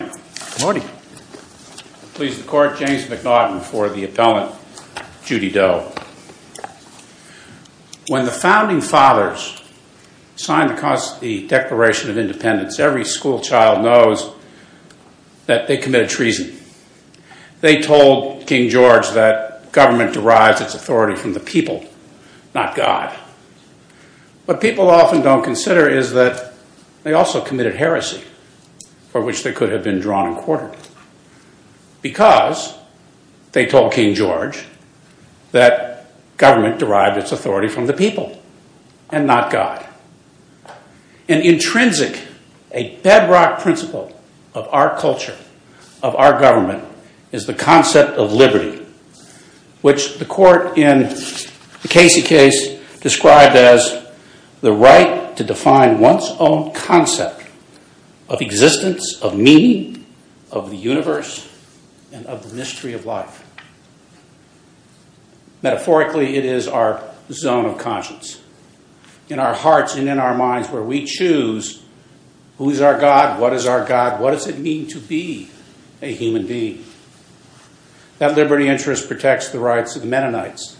When the Founding Fathers signed the Declaration of Independence, every school child knows that they committed treason. They told King George that government derives its authority from the people, not God. What people often don't consider is that they also committed heresy, for which they could have been drawn and courted. An intrinsic, a bedrock principle of our culture, of our government, is the concept of liberty, which the court in the of existence, of meaning, of the universe, and of the mystery of life. Metaphorically, it is our zone of conscience, in our hearts and in our minds, where we choose who is our God, what is our God, what does it mean to be a human being. That liberty interest protects the rights of the Mennonites,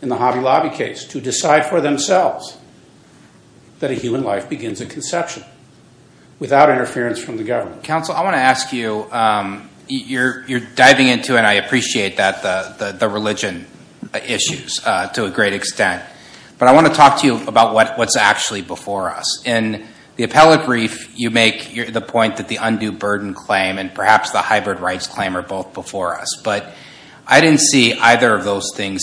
in the Hobby Lobby case, to decide for themselves that a human life begins at conception, without interference from the government. Dr. Michael D. Parson Counsel, I want to ask you, you're diving into, and I appreciate that, the religion issues to a great extent, but I want to talk to you about what's actually before us. In the appellate brief, you make the point that the undue burden claim and perhaps the hybrid rights claim are both before us, but I didn't see either of those things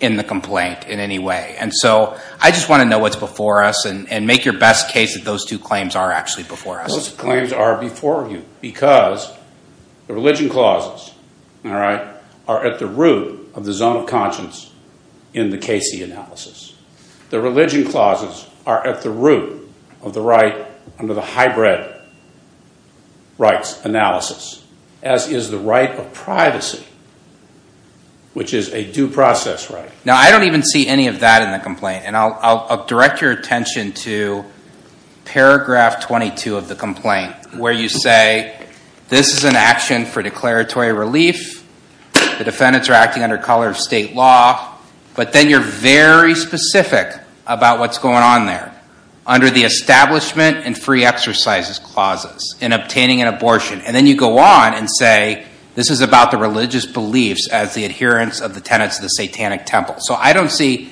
in the complaint in any way. And so, I just want to know what's before us, and make your best case that those two claims are actually before us. Those claims are before you, because the religion clauses are at the root of the zone of conscience in the Casey analysis. The religion clauses are at the root of the right under the hybrid rights analysis, as is the right of privacy, which is a due process right. Now, I don't even see any of that in the complaint, and I'll direct your attention to paragraph 22 of the complaint, where you say, this is an action for declaratory relief, the defendants are acting under color of state law, but then you're very specific about what's going on there, under the establishment and free exercises clauses, in obtaining an abortion, and then you go on and say, this is about the religious beliefs as the adherence of the tenants of the satanic temple. So, I don't see,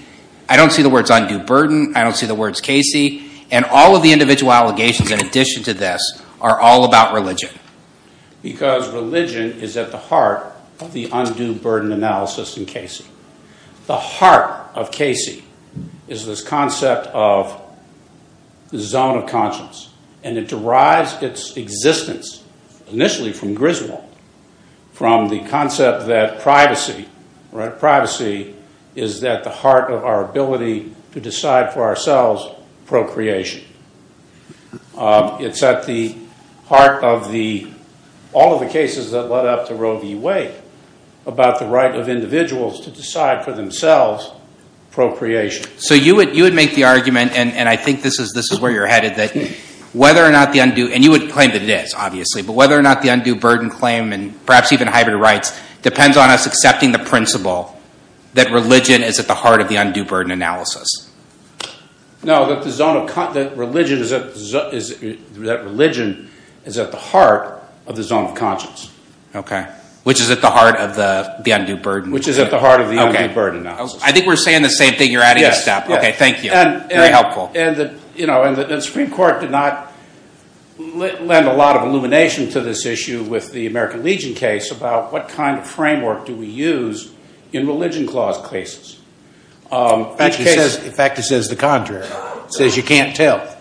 I don't see the words undue burden, I don't see the words Casey, and all of the individual allegations in addition to this are all about religion. Because religion is at the heart of the undue burden analysis in Casey. The heart of Casey is this concept of the zone of conscience, and it derives its existence initially from Griswold, from the concept that privacy, right, privacy is at the heart of our ability to decide for ourselves procreation. It's at the heart of the, all of the cases that led up to Roe v. Wade, about the right of individuals to decide for themselves procreation. So you would make the argument, and I think this is where you're headed, that whether or not the undue, and you would claim that it is, obviously, but whether or not the undue burden claim, and perhaps even hybrid rights, depends on us accepting the principle that religion is at the heart of the undue burden analysis. No, that the zone of, that religion is at the heart of the zone of conscience. Okay. Which is at the heart of the undue burden analysis. Which is at the heart of the undue burden analysis. I think we're saying the same thing, you're adding a step. Okay, thank you. Very helpful. And the Supreme Court did not lend a lot of illumination to this issue with the American Legion case about what kind of framework do we use in religion clause cases. In fact, it says the contrary. It says you can't tell.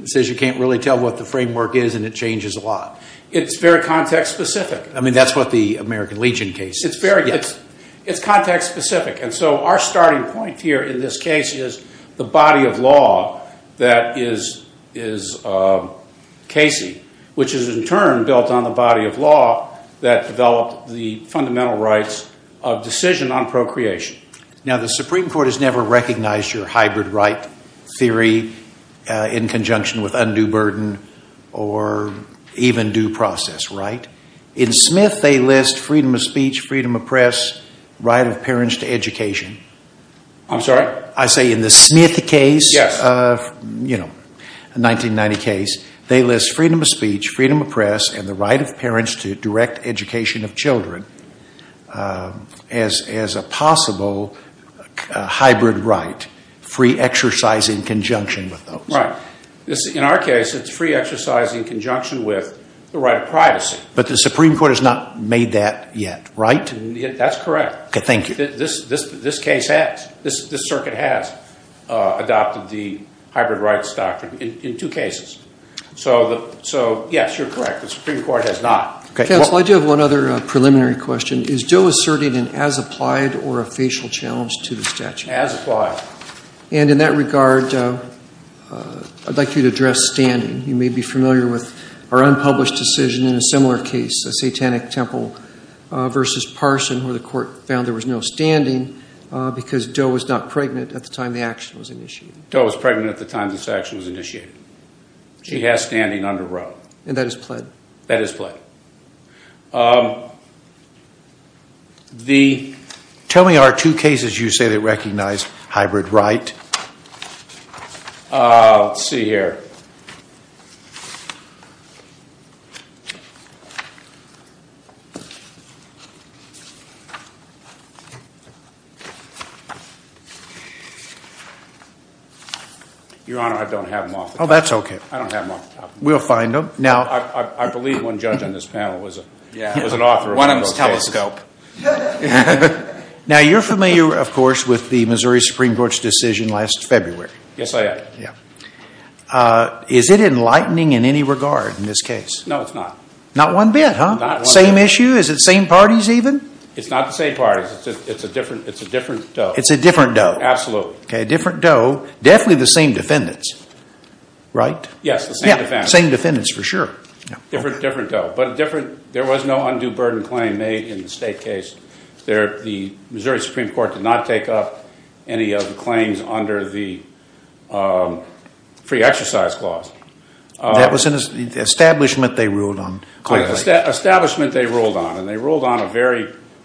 It says you can't really tell what the framework is, and it changes a lot. It's very context specific. I mean, that's what the American Legion case is. It's very, it's context specific, and so our starting point here in this case is the body of law that is, is Casey, which is in turn built on the body of law that developed the fundamental rights of decision on procreation. Now, the Supreme Court has never recognized your hybrid right theory in conjunction with undue burden or even due process, right? In Smith, they list freedom of speech, freedom of press, right of parents to education. I'm sorry? I say in the Smith case. Yes. You know, a 1990 case, they list freedom of speech, freedom of press, and the right of education of children as a possible hybrid right, free exercise in conjunction with those. Right. In our case, it's free exercise in conjunction with the right of privacy. But the Supreme Court has not made that yet, right? That's correct. Okay, thank you. This case has. This circuit has adopted the hybrid rights doctrine in two cases. So, yes, you're correct. The Supreme Court has not. Counsel, I do have one other preliminary question. Is Doe asserting an as-applied or a facial challenge to the statute? As-applied. And in that regard, I'd like you to address standing. You may be familiar with our unpublished decision in a similar case, a Satanic Temple versus Parson, where the court found there was no standing because Doe was not pregnant at the time the action was initiated. Doe was pregnant at the time this action was initiated. She has standing under Roe. And that is pled. That is pled. Tell me our two cases you say that recognize hybrid right. Let's see here. Your Honor, I don't have them off the top of my head. Oh, that's okay. We'll find them. I believe one judge on this panel was an author of one of those cases. One of them is Telescope. Now, you're familiar, of course, with the Missouri Supreme Court's decision last February. Yes, I am. Is it enlightening in any regard in this case? No, it's not. Not one bit, huh? Not one bit. Same issue? Is it same parties even? It's not the same parties. It's a different Doe. It's a different Doe. Absolutely. Okay, different Doe. Definitely the same defendants, right? Yes, the same defendants. Same defendants for sure. Different Doe. But there was no undue burden claim made in the state case. The Missouri Supreme Court did not take up any of the claims under the free exercise clause. That was an establishment they ruled on. Establishment they ruled on.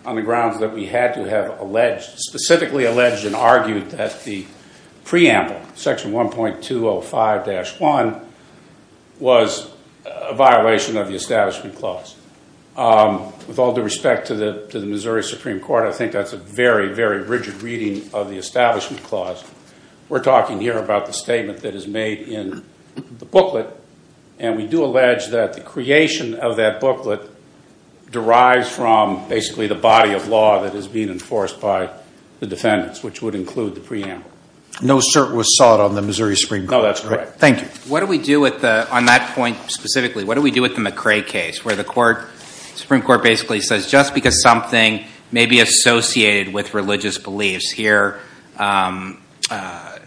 on the grounds that we had to have specifically alleged and argued that the preamble, Section 1.205-1, was a violation of the Establishment Clause. With all due respect to the Missouri Supreme Court, I think that's a very, very rigid reading of the Establishment Clause. We're talking here about the statement that is made in the booklet, and we do allege that the creation of that booklet derives from basically the body of law that is being enforced by the defendants, which would include the preamble. No cert was sought on the Missouri Supreme Court. No, that's correct. Thank you. What do we do with the, on that point specifically, what do we do with the McCrae case, where the Supreme Court basically says just because something may be associated with religious beliefs, here, life,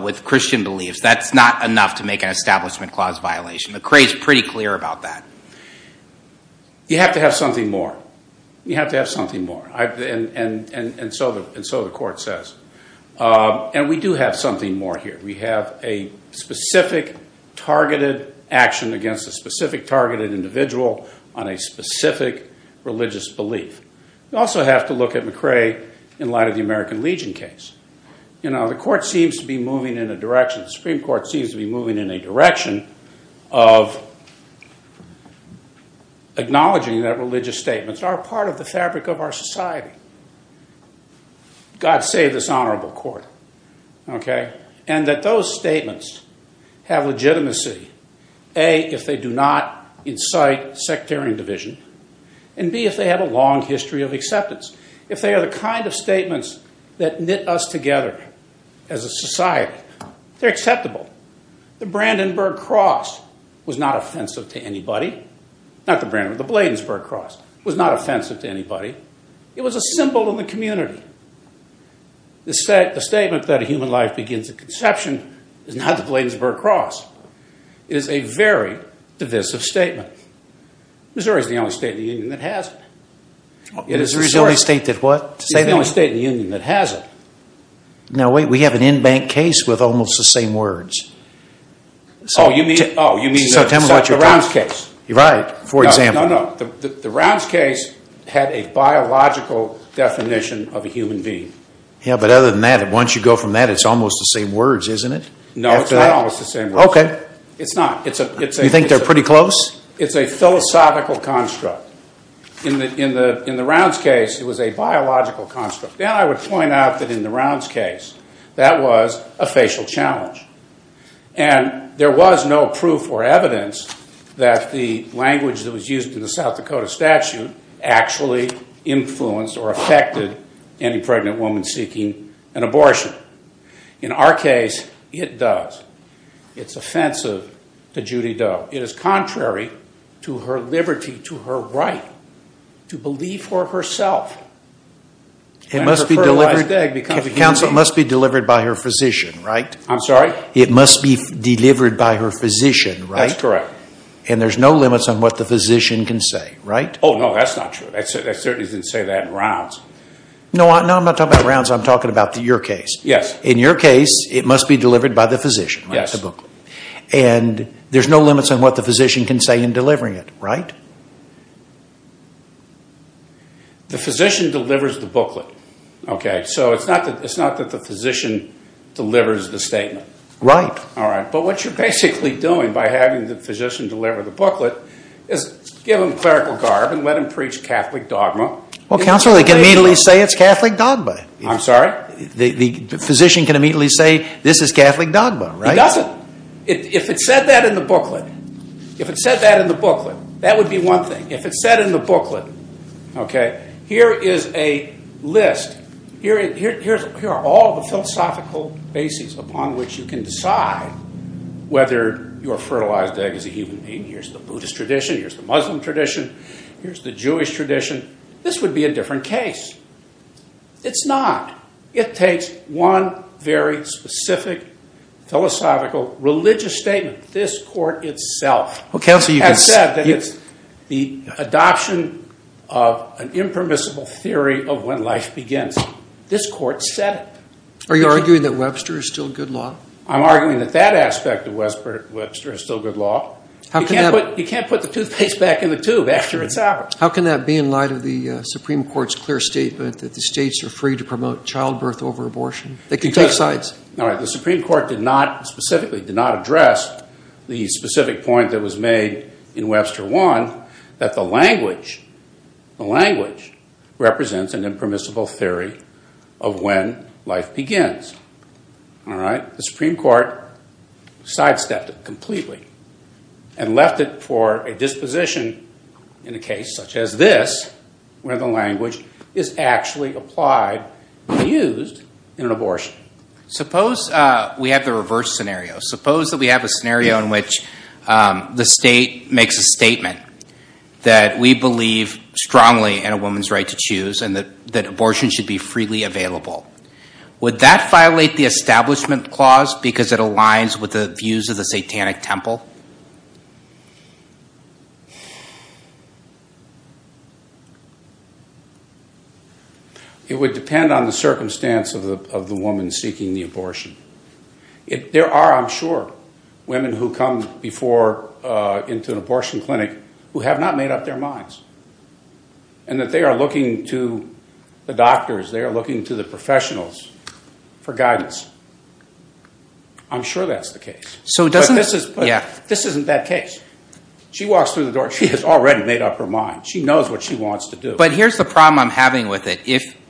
with Christian beliefs, that's not enough to make an Establishment Clause violation. McCrae is pretty clear about that. You have to have something more. You have to have something more. And so the Court says. And we do have something more here. We have a specific targeted action against a specific targeted individual on a specific religious belief. We also have to look at McCrae in light of the American Legion case. You know, the Court seems to be moving in a direction, the Supreme Court seems to be moving in a direction, of acknowledging that religious statements are part of the fabric of our society. God save this honorable court. Okay? And that those statements have legitimacy, A, if they do not incite sectarian division, and B, if they have a long history of acceptance. If they are the kind of statements that knit us together as a society, they're acceptable. The Brandenburg Cross was not offensive to anybody. Not the Brandenburg, the Bladensburg Cross was not offensive to anybody. It was a symbol in the community. The statement that a human life begins at conception is not the Bladensburg Cross. It is a very divisive statement. Yeah. Missouri is the only state in the Union that has it. It is the only state that what? It is the only state in the Union that has it. Now, wait, we have an in-bank case with almost the same words. Oh, you mean the Rounds case? Right, for example. No, no, the Rounds case had a biological definition of a human being. Yeah, but other than that, once you go from that, it's almost the same words, isn't it? No, it's not almost the same words. Okay. It's not. You think they're pretty close? It's a philosophical construct. In the Rounds case, it was a biological construct. And I would point out that in the Rounds case, that was a facial challenge. And there was no proof or evidence that the language that was used in the South Dakota statute actually influenced or affected any pregnant woman seeking an abortion. In our case, it does. It's offensive to Judy Doe. It is contrary to her liberty, to her right to believe for herself. It must be delivered by her physician, right? I'm sorry? It must be delivered by her physician, right? That's correct. And there's no limits on what the physician can say, right? Oh, no, that's not true. They certainly didn't say that in Rounds. No, I'm not talking about Rounds. I'm talking about your case. Yes. In your case, it must be delivered by the physician, right? Yes. The booklet. And there's no limits on what the physician can say in delivering it, right? The physician delivers the booklet, okay? So it's not that the physician delivers the statement. Right. All right. But what you're basically doing by having the physician deliver the booklet is give him clerical garb and let him preach Catholic dogma. Well, Counselor, they can immediately say it's Catholic dogma. I'm sorry? The physician can immediately say this is Catholic dogma, right? He doesn't. If it said that in the booklet, that would be one thing. If it said in the booklet, okay, here is a list. Here are all the philosophical bases upon which you can decide whether your fertilized egg is a human being. Here's the Buddhist tradition. Here's the Muslim tradition. Here's the Jewish tradition. This would be a different case. It's not. It takes one very specific philosophical religious statement. This court itself has said that it's the adoption of an impermissible theory of when life begins. This court said it. Are you arguing that Webster is still good law? I'm arguing that that aspect of Webster is still good law. You can't put the toothpaste back in the tube after it's out. How can that be in light of the Supreme Court's clear statement that the states are free to promote childbirth over abortion? They can take sides. The Supreme Court did not specifically address the specific point that was made in Webster 1, that the language represents an impermissible theory of when life begins. The Supreme Court sidestepped it completely and left it for a disposition in a case such as this where the language is actually applied and used in an abortion. Suppose we have the reverse scenario. Suppose that we have a scenario in which the state makes a statement that we believe strongly in a woman's right to choose and that abortion should be freely available. Would that violate the Establishment Clause because it aligns with the views of the satanic temple? It would depend on the circumstance of the woman seeking the abortion. There are, I'm sure, women who come before into an abortion clinic who have not made up their minds and that they are looking to the doctors, they are looking to the professionals for guidance. I'm sure that's the case. This isn't that case. She walks through the door and she has already made up her mind. She knows what she wants to do. But here's the problem I'm having with it.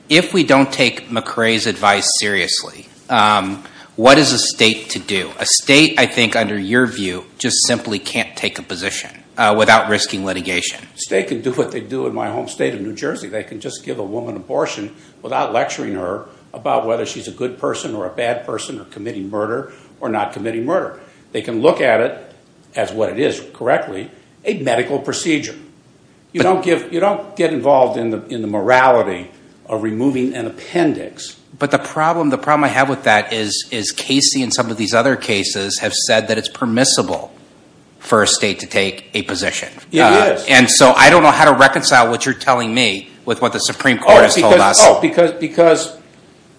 If we don't take McCrae's advice seriously, what is a state to do? A state, I think, under your view, just simply can't take a position without risking litigation. A state can do what they do in my home state of New Jersey. They can just give a woman an abortion without lecturing her about whether she's a good person or a bad person or committing murder or not committing murder. They can look at it as what it is correctly, a medical procedure. You don't get involved in the morality of removing an appendix. But the problem I have with that is Casey and some of these other cases have said that it's permissible for a state to take a position. It is. And so I don't know how to reconcile what you're telling me with what the Supreme Court has told us. No, because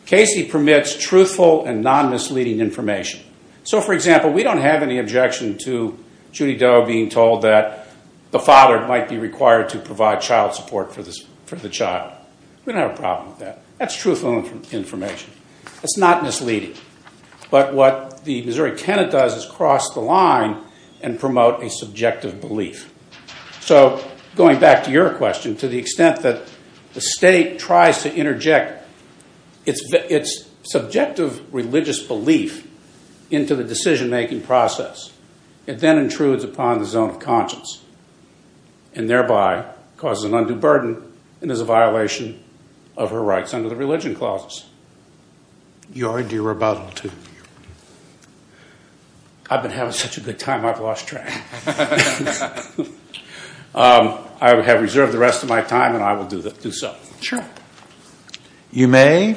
Casey permits truthful and non-misleading information. So, for example, we don't have any objection to Judy Doe being told that the father might be required to provide child support for the child. We don't have a problem with that. That's truthful information. It's not misleading. But what the Missouri tenant does is cross the line and promote a subjective belief. So going back to your question, to the extent that the state tries to interject its subjective religious belief into the decision-making process, it then intrudes upon the zone of conscience and thereby causes an undue burden and is a violation of her rights under the religion clauses. You're a dear rebuttal to me. I've been having such a good time I've lost track. I have reserved the rest of my time, and I will do so. Sure. You may.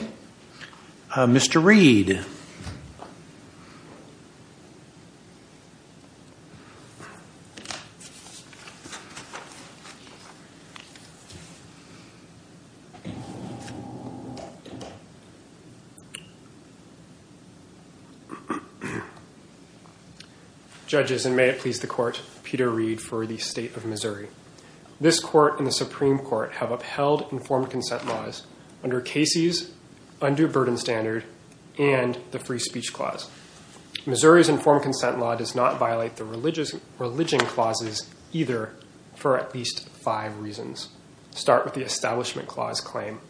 Mr. Reed. Thank you. Judges, and may it please the Court, Peter Reed for the State of Missouri. This Court and the Supreme Court have upheld informed consent laws under Casey's Undue Burden Standard and the Free Speech Clause. Missouri's informed consent law does not violate the religion clauses either for at least five reasons. Start with the Establishment Clause claim.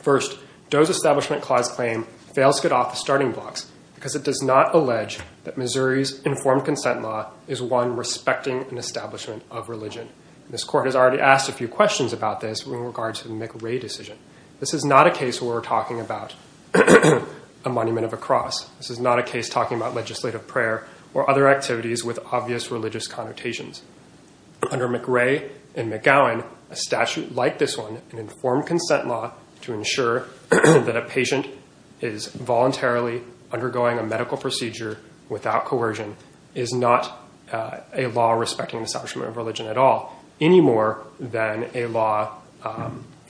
First, Doe's Establishment Clause claim fails to get off the starting blocks because it does not allege that Missouri's informed consent law is one respecting an establishment of religion. This Court has already asked a few questions about this in regards to the McRae decision. This is not a case where we're talking about a monument of a cross. This is not a case talking about legislative prayer or other activities with obvious religious connotations. Under McRae and McGowan, a statute like this one, an informed consent law, to ensure that a patient is voluntarily undergoing a medical procedure without coercion is not a law respecting an establishment of religion at all any more than a law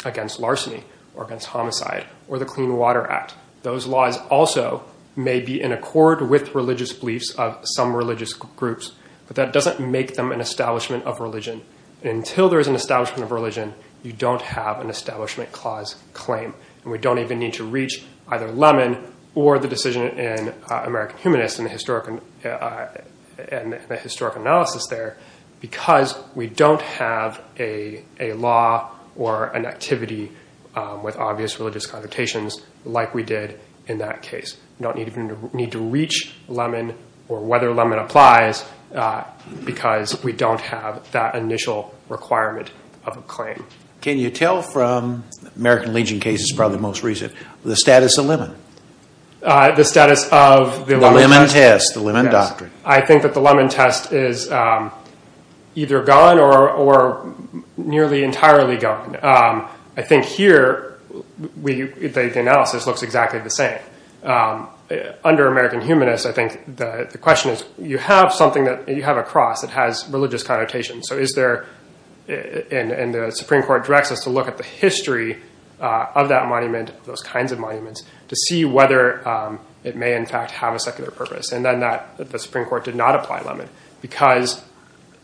against larceny or against homicide or the Clean Water Act. Those laws also may be in accord with religious beliefs of some religious groups, but that doesn't make them an establishment of religion. Until there is an establishment of religion, you don't have an Establishment Clause claim. We don't even need to reach either Lemon or the decision in American Humanist and the historic analysis there because we don't have a law or an activity with obvious religious connotations like we did in that case. We don't even need to reach Lemon or whether Lemon applies because we don't have that initial requirement of a claim. Can you tell from American Legion cases, probably the most recent, the status of Lemon? The status of the Lemon test? The Lemon test, the Lemon doctrine. I think that the Lemon test is either gone or nearly entirely gone. I think here the analysis looks exactly the same. Under American Humanist, I think the question is you have something, you have a cross that has religious connotations. The Supreme Court directs us to look at the history of that monument, those kinds of monuments, to see whether it may in fact have a secular purpose. And then the Supreme Court did not apply Lemon because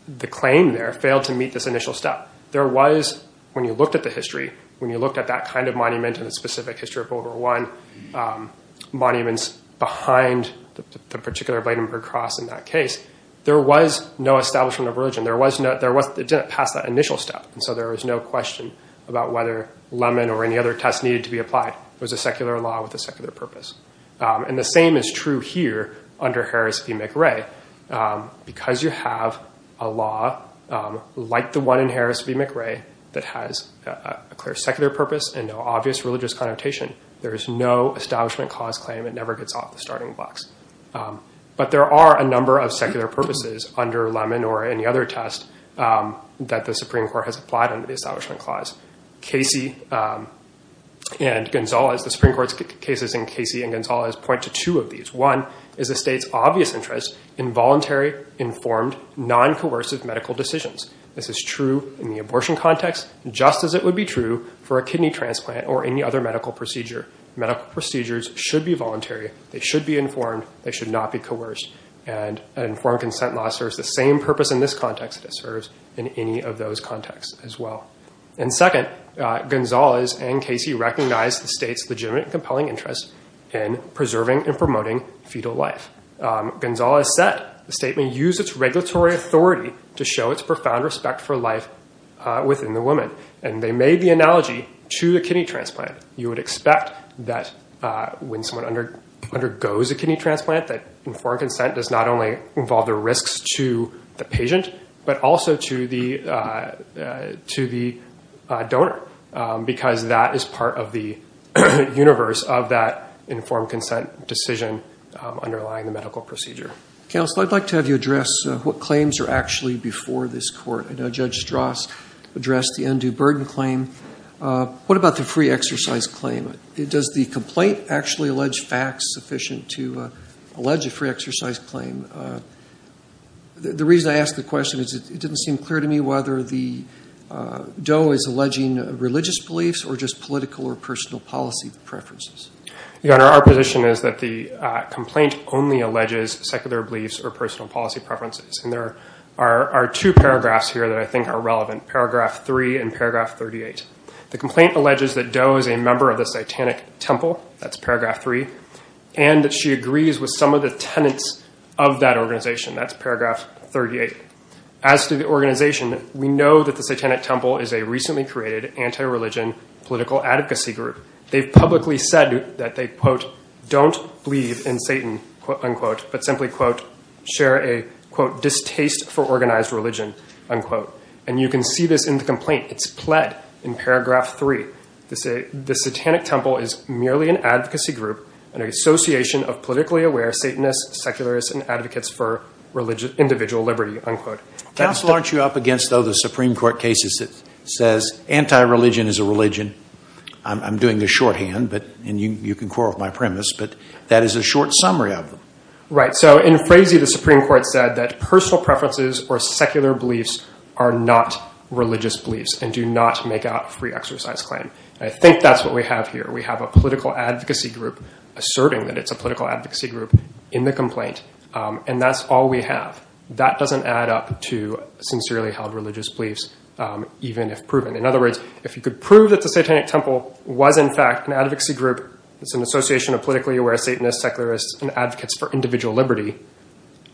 the claim there failed to meet this initial step. There was, when you looked at the history, when you looked at that kind of monument and the specific history of World War I monuments behind the particular Bladenburg Cross in that case, there was no establishment of religion. It didn't pass that initial step. And so there was no question about whether Lemon or any other test needed to be applied. It was a secular law with a secular purpose. And the same is true here under Harris v. McRae. Because you have a law like the one in Harris v. McRae that has a clear secular purpose and no obvious religious connotation, there is no establishment cause claim. It never gets off the starting blocks. But there are a number of secular purposes under Lemon or any other test that the Supreme Court has applied under the Establishment Clause. The Supreme Court's cases in Casey v. Gonzalez point to two of these. One is the state's obvious interest in voluntary, informed, non-coercive medical decisions. This is true in the abortion context, just as it would be true for a kidney transplant Medical procedures should be voluntary. They should be informed. They should not be coerced. An informed consent law serves the same purpose in this context as it serves in any of those contexts as well. And second, Gonzalez and Casey recognized the state's legitimate and compelling interest in preserving and promoting fetal life. Gonzalez said the state may use its regulatory authority to show its profound respect for life within the woman. And they made the analogy to the kidney transplant. You would expect that when someone undergoes a kidney transplant, that informed consent does not only involve the risks to the patient, but also to the donor, because that is part of the universe of that informed consent decision underlying the medical procedure. Counsel, I'd like to have you address what claims are actually before this court. I know Judge Strauss addressed the undue burden claim. What about the free exercise claim? Does the complaint actually allege facts sufficient to allege a free exercise claim? The reason I ask the question is it didn't seem clear to me whether the DOE is alleging religious beliefs or just political or personal policy preferences. Your Honor, our position is that the complaint only alleges secular beliefs or personal policy preferences. And there are two paragraphs here that I think are relevant, paragraph 3 and paragraph 38. The complaint alleges that DOE is a member of the Satanic Temple, that's paragraph 3, and that she agrees with some of the tenets of that organization, that's paragraph 38. As to the organization, we know that the Satanic Temple is a recently created anti-religion political advocacy group. They've publicly said that they, quote, don't believe in Satan, unquote, but simply, quote, share a, quote, distaste for organized religion, unquote. And you can see this in the complaint. It's pled in paragraph 3 to say the Satanic Temple is merely an advocacy group and an association of politically aware Satanists, secularists, and advocates for individual liberty, unquote. Counsel, aren't you up against, though, the Supreme Court cases that says anti-religion is a religion? I'm doing this shorthand, and you can quarrel with my premise, but that is a short summary of them. Right. So in Frazee, the Supreme Court said that personal preferences or secular beliefs are not religious beliefs and do not make out free exercise claim. I think that's what we have here. We have a political advocacy group asserting that it's a political advocacy group in the complaint, and that's all we have. That doesn't add up to sincerely held religious beliefs, even if proven. In other words, if you could prove that the Satanic Temple was, in fact, an advocacy group, it's an association of politically aware Satanists, secularists, and advocates for individual liberty,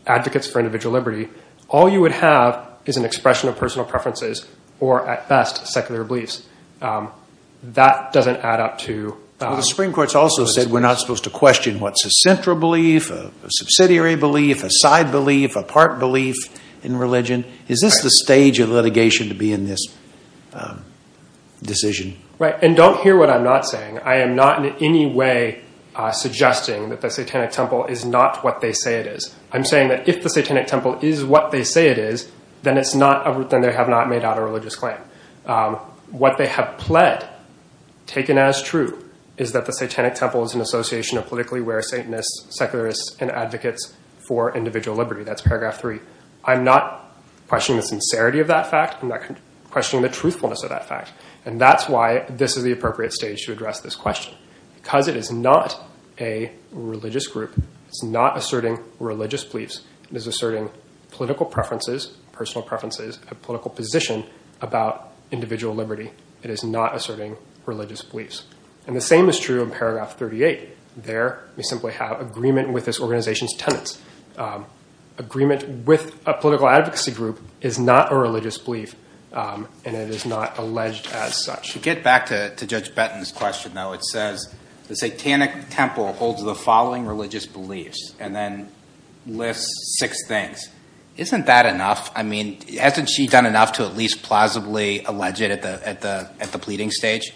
advocates for individual liberty, all you would have is an expression of personal preferences or, at best, secular beliefs. That doesn't add up to religious beliefs. Well, the Supreme Court's also said we're not supposed to question what's a central belief, a subsidiary belief, a side belief, a part belief in religion. Is this the stage of litigation to be in this decision? Right. And don't hear what I'm not saying. I am not in any way suggesting that the Satanic Temple is not what they say it is. I'm saying that if the Satanic Temple is what they say it is, then they have not made out a religious claim. What they have pled, taken as true, is that the Satanic Temple is an association of politically aware Satanists, secularists, and advocates for individual liberty. That's paragraph three. I'm not questioning the sincerity of that fact. I'm not questioning the truthfulness of that fact. And that's why this is the appropriate stage to address this question. Because it is not a religious group, it's not asserting religious beliefs. It is asserting political preferences, personal preferences, a political position about individual liberty. It is not asserting religious beliefs. And the same is true in paragraph 38. There we simply have agreement with this organization's tenets. Agreement with a political advocacy group is not a religious belief, and it is not alleged as such. To get back to Judge Benton's question, though, it says, the Satanic Temple holds the following religious beliefs, and then lists six things. Isn't that enough? I mean, hasn't she done enough to at least plausibly allege it at the pleading stage?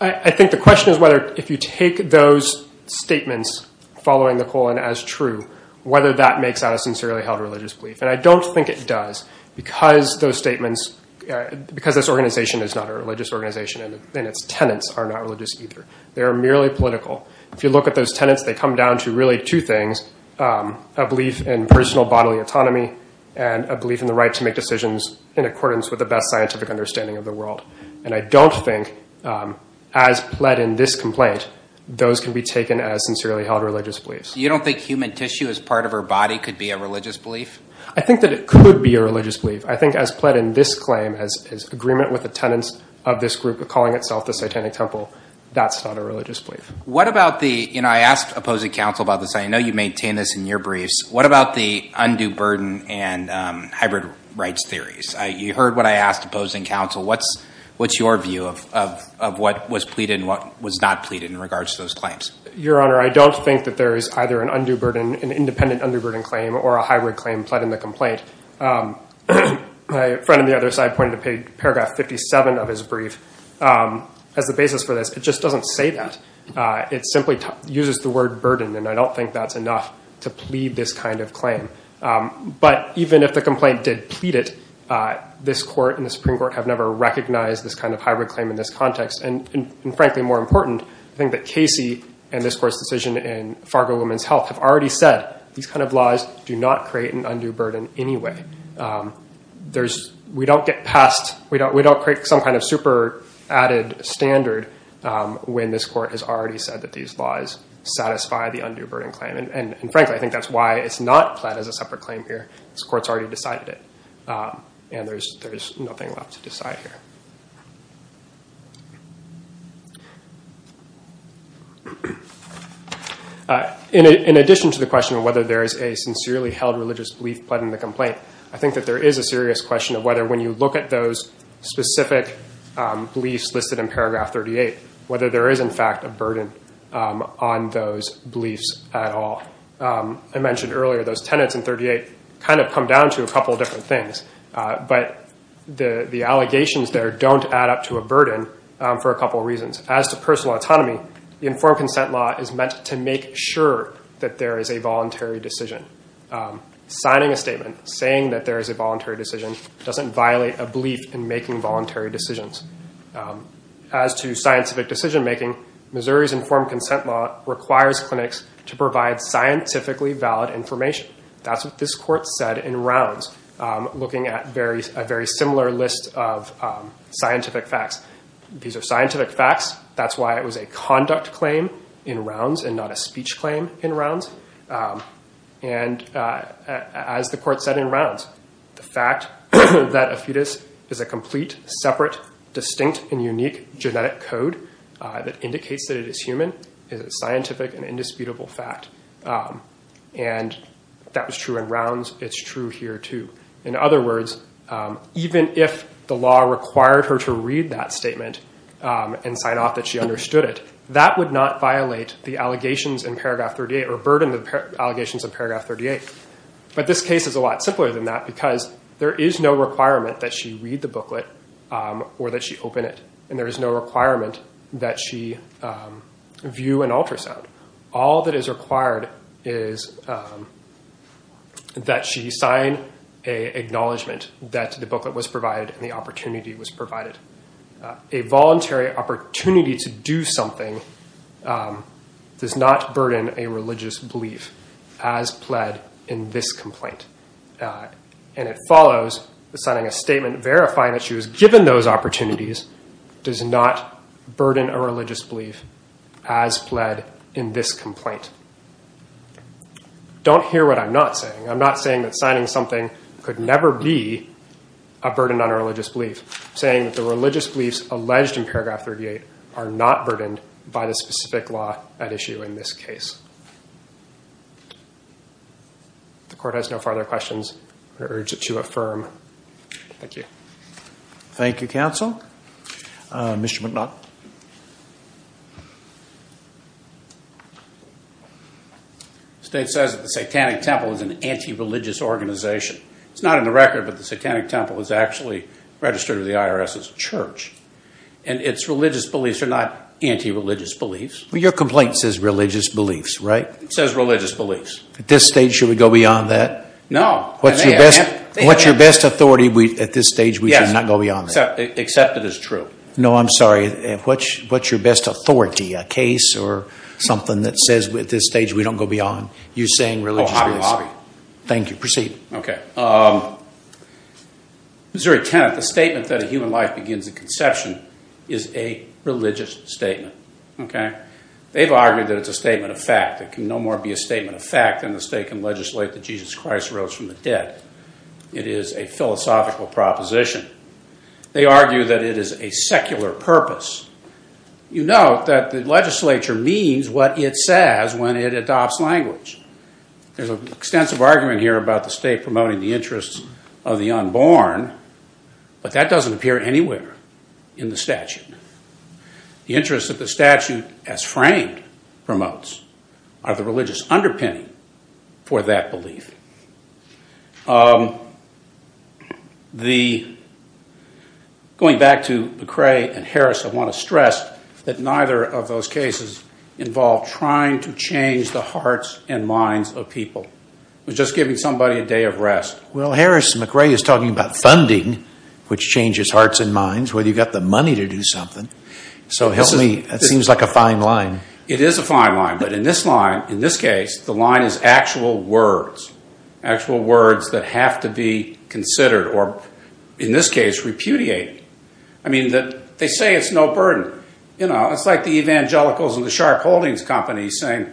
I think the question is whether if you take those statements following the colon as true, whether that makes that a sincerely held religious belief. And I don't think it does because those statements, because this organization is not a religious organization and its tenets are not religious either. They are merely political. If you look at those tenets, they come down to really two things, a belief in personal bodily autonomy and a belief in the right to make decisions in accordance with the best scientific understanding of the world. And I don't think, as pled in this complaint, those can be taken as sincerely held religious beliefs. You don't think human tissue as part of her body could be a religious belief? I think that it could be a religious belief. I think, as pled in this claim, as agreement with the tenets of this group calling itself the Satanic Temple, that's not a religious belief. I asked opposing counsel about this. I know you maintain this in your briefs. What about the undue burden and hybrid rights theories? You heard what I asked opposing counsel. What's your view of what was pleaded and what was not pleaded in regards to those claims? Your Honor, I don't think that there is either an undue burden, an independent undue burden claim or a hybrid claim pled in the complaint. My friend on the other side pointed to paragraph 57 of his brief as the basis for this. It just doesn't say that. It simply uses the word burden, and I don't think that's enough to plead this kind of claim. But even if the complaint did plead it, this Court and the Supreme Court have never recognized this kind of hybrid claim in this context. And frankly, more important, I think that Casey and this Court's decision in Fargo Women's Health have already said these kind of laws do not create an undue burden anyway. We don't get past, we don't create some kind of super added standard when this Court has already said that these laws satisfy the undue burden claim. And frankly, I think that's why it's not pled as a separate claim here. This Court's already decided it, and there's nothing left to decide here. In addition to the question of whether there is a sincerely held religious belief pled in the complaint, I think that there is a serious question of whether when you look at those specific beliefs listed in paragraph 38, whether there is, in fact, a burden on those beliefs at all. I mentioned earlier those tenets in 38 kind of come down to a couple of different things. But the allegations there don't add up to a burden for a couple of reasons. As to personal autonomy, the informed consent law is meant to make sure that there is a voluntary decision. Signing a statement saying that there is a voluntary decision doesn't violate a belief in making voluntary decisions. As to scientific decision making, Missouri's informed consent law requires clinics to provide scientifically valid information. That's what this Court said in rounds, looking at a very similar list of scientific facts. These are scientific facts. That's why it was a conduct claim in rounds and not a speech claim in rounds. And as the Court said in rounds, the fact that a fetus is a complete, separate, distinct, and unique genetic code that indicates that it is human is a scientific and indisputable fact. And that was true in rounds. It's true here, too. In other words, even if the law required her to read that statement and sign off that she understood it, that would not violate the allegations in paragraph 38 or burden the allegations in paragraph 38. But this case is a lot simpler than that because there is no requirement that she read the booklet or that she open it. And there is no requirement that she view an ultrasound. All that is required is that she sign an acknowledgment that the booklet was provided and the opportunity was provided. A voluntary opportunity to do something does not burden a religious belief as pled in this complaint. And it follows that signing a statement verifying that she was given those opportunities does not burden a religious belief as pled in this complaint. Don't hear what I'm not saying. I'm not saying that signing something could never be a burden on a religious belief. I'm saying that the religious beliefs alleged in paragraph 38 are not burdened by the specific law at issue in this case. If the Court has no further questions, I urge it to affirm. Thank you. Thank you, Counsel. Mr. McNutt. The state says that the Satanic Temple is an anti-religious organization. It's not in the record, but the Satanic Temple is actually registered with the IRS as a church. And its religious beliefs are not anti-religious beliefs. Well, your complaint says religious beliefs, right? It says religious beliefs. At this stage, should we go beyond that? No. What's your best authority at this stage? We should not go beyond that. Yes, except it is true. No, I'm sorry. What's your best authority? A case or something that says at this stage we don't go beyond you saying religious beliefs? Oh, I'm sorry. Thank you. Proceed. Okay. Missouri Tenet. The statement that a human life begins at conception is a religious statement. Okay. They've argued that it's a statement of fact. It can no more be a statement of fact than the state can legislate that Jesus Christ arose from the dead. It is a philosophical proposition. They argue that it is a secular purpose. You note that the legislature means what it says when it adopts language. There's an extensive argument here about the state promoting the interests of the unborn, but that doesn't appear anywhere in the statute. The interests that the statute as framed promotes are the religious underpinning for that belief. Going back to McRae and Harris, I want to stress that neither of those cases involved trying to change the hearts and minds of people. It was just giving somebody a day of rest. Well, Harris and McRae is talking about funding, which changes hearts and minds, whether you've got the money to do something. So help me. That seems like a fine line. It is a fine line. But in this line, in this case, the line is actual words, actual words that have to be considered or, in this case, repudiated. I mean, they say it's no burden. It's like the evangelicals in the Sharp Holdings Company saying,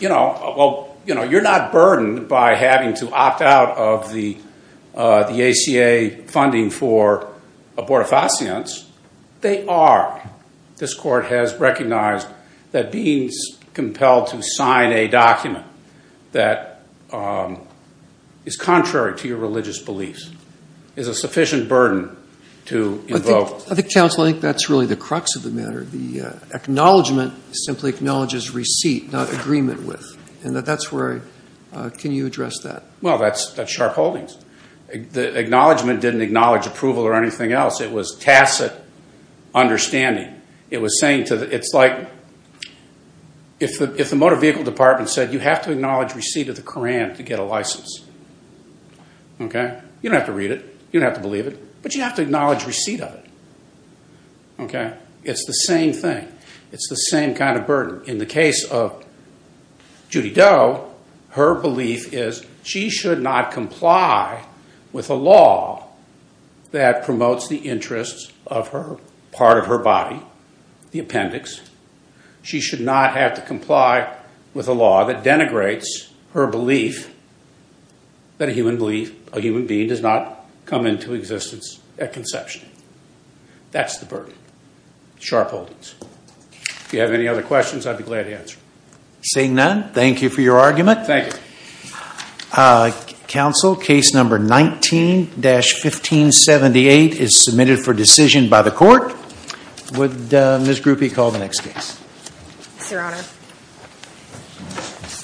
well, you're not burdened by having to opt out of the ACA funding for abortifacients. They are. This court has recognized that being compelled to sign a document that is contrary to your religious beliefs is a sufficient burden to invoke. I think, counsel, I think that's really the crux of the matter. The acknowledgment simply acknowledges receipt, not agreement with. Can you address that? Well, that's Sharp Holdings. The acknowledgment didn't acknowledge approval or anything else. It was tacit understanding. It's like if the motor vehicle department said you have to acknowledge receipt of the Koran to get a license. You don't have to read it. You don't have to believe it. But you have to acknowledge receipt of it. It's the same thing. It's the same kind of burden. In the case of Judy Doe, her belief is she should not comply with a law that promotes the interests of her part of her body, the appendix. She should not have to comply with a law that denigrates her belief that a human being does not come into existence at conception. That's the burden. Sharp Holdings. If you have any other questions, I'd be glad to answer. Seeing none, thank you for your argument. Thank you. Counsel, case number 19-1578 is submitted for decision by the court. Would Ms. Grupe call the next case? Yes, Your Honor.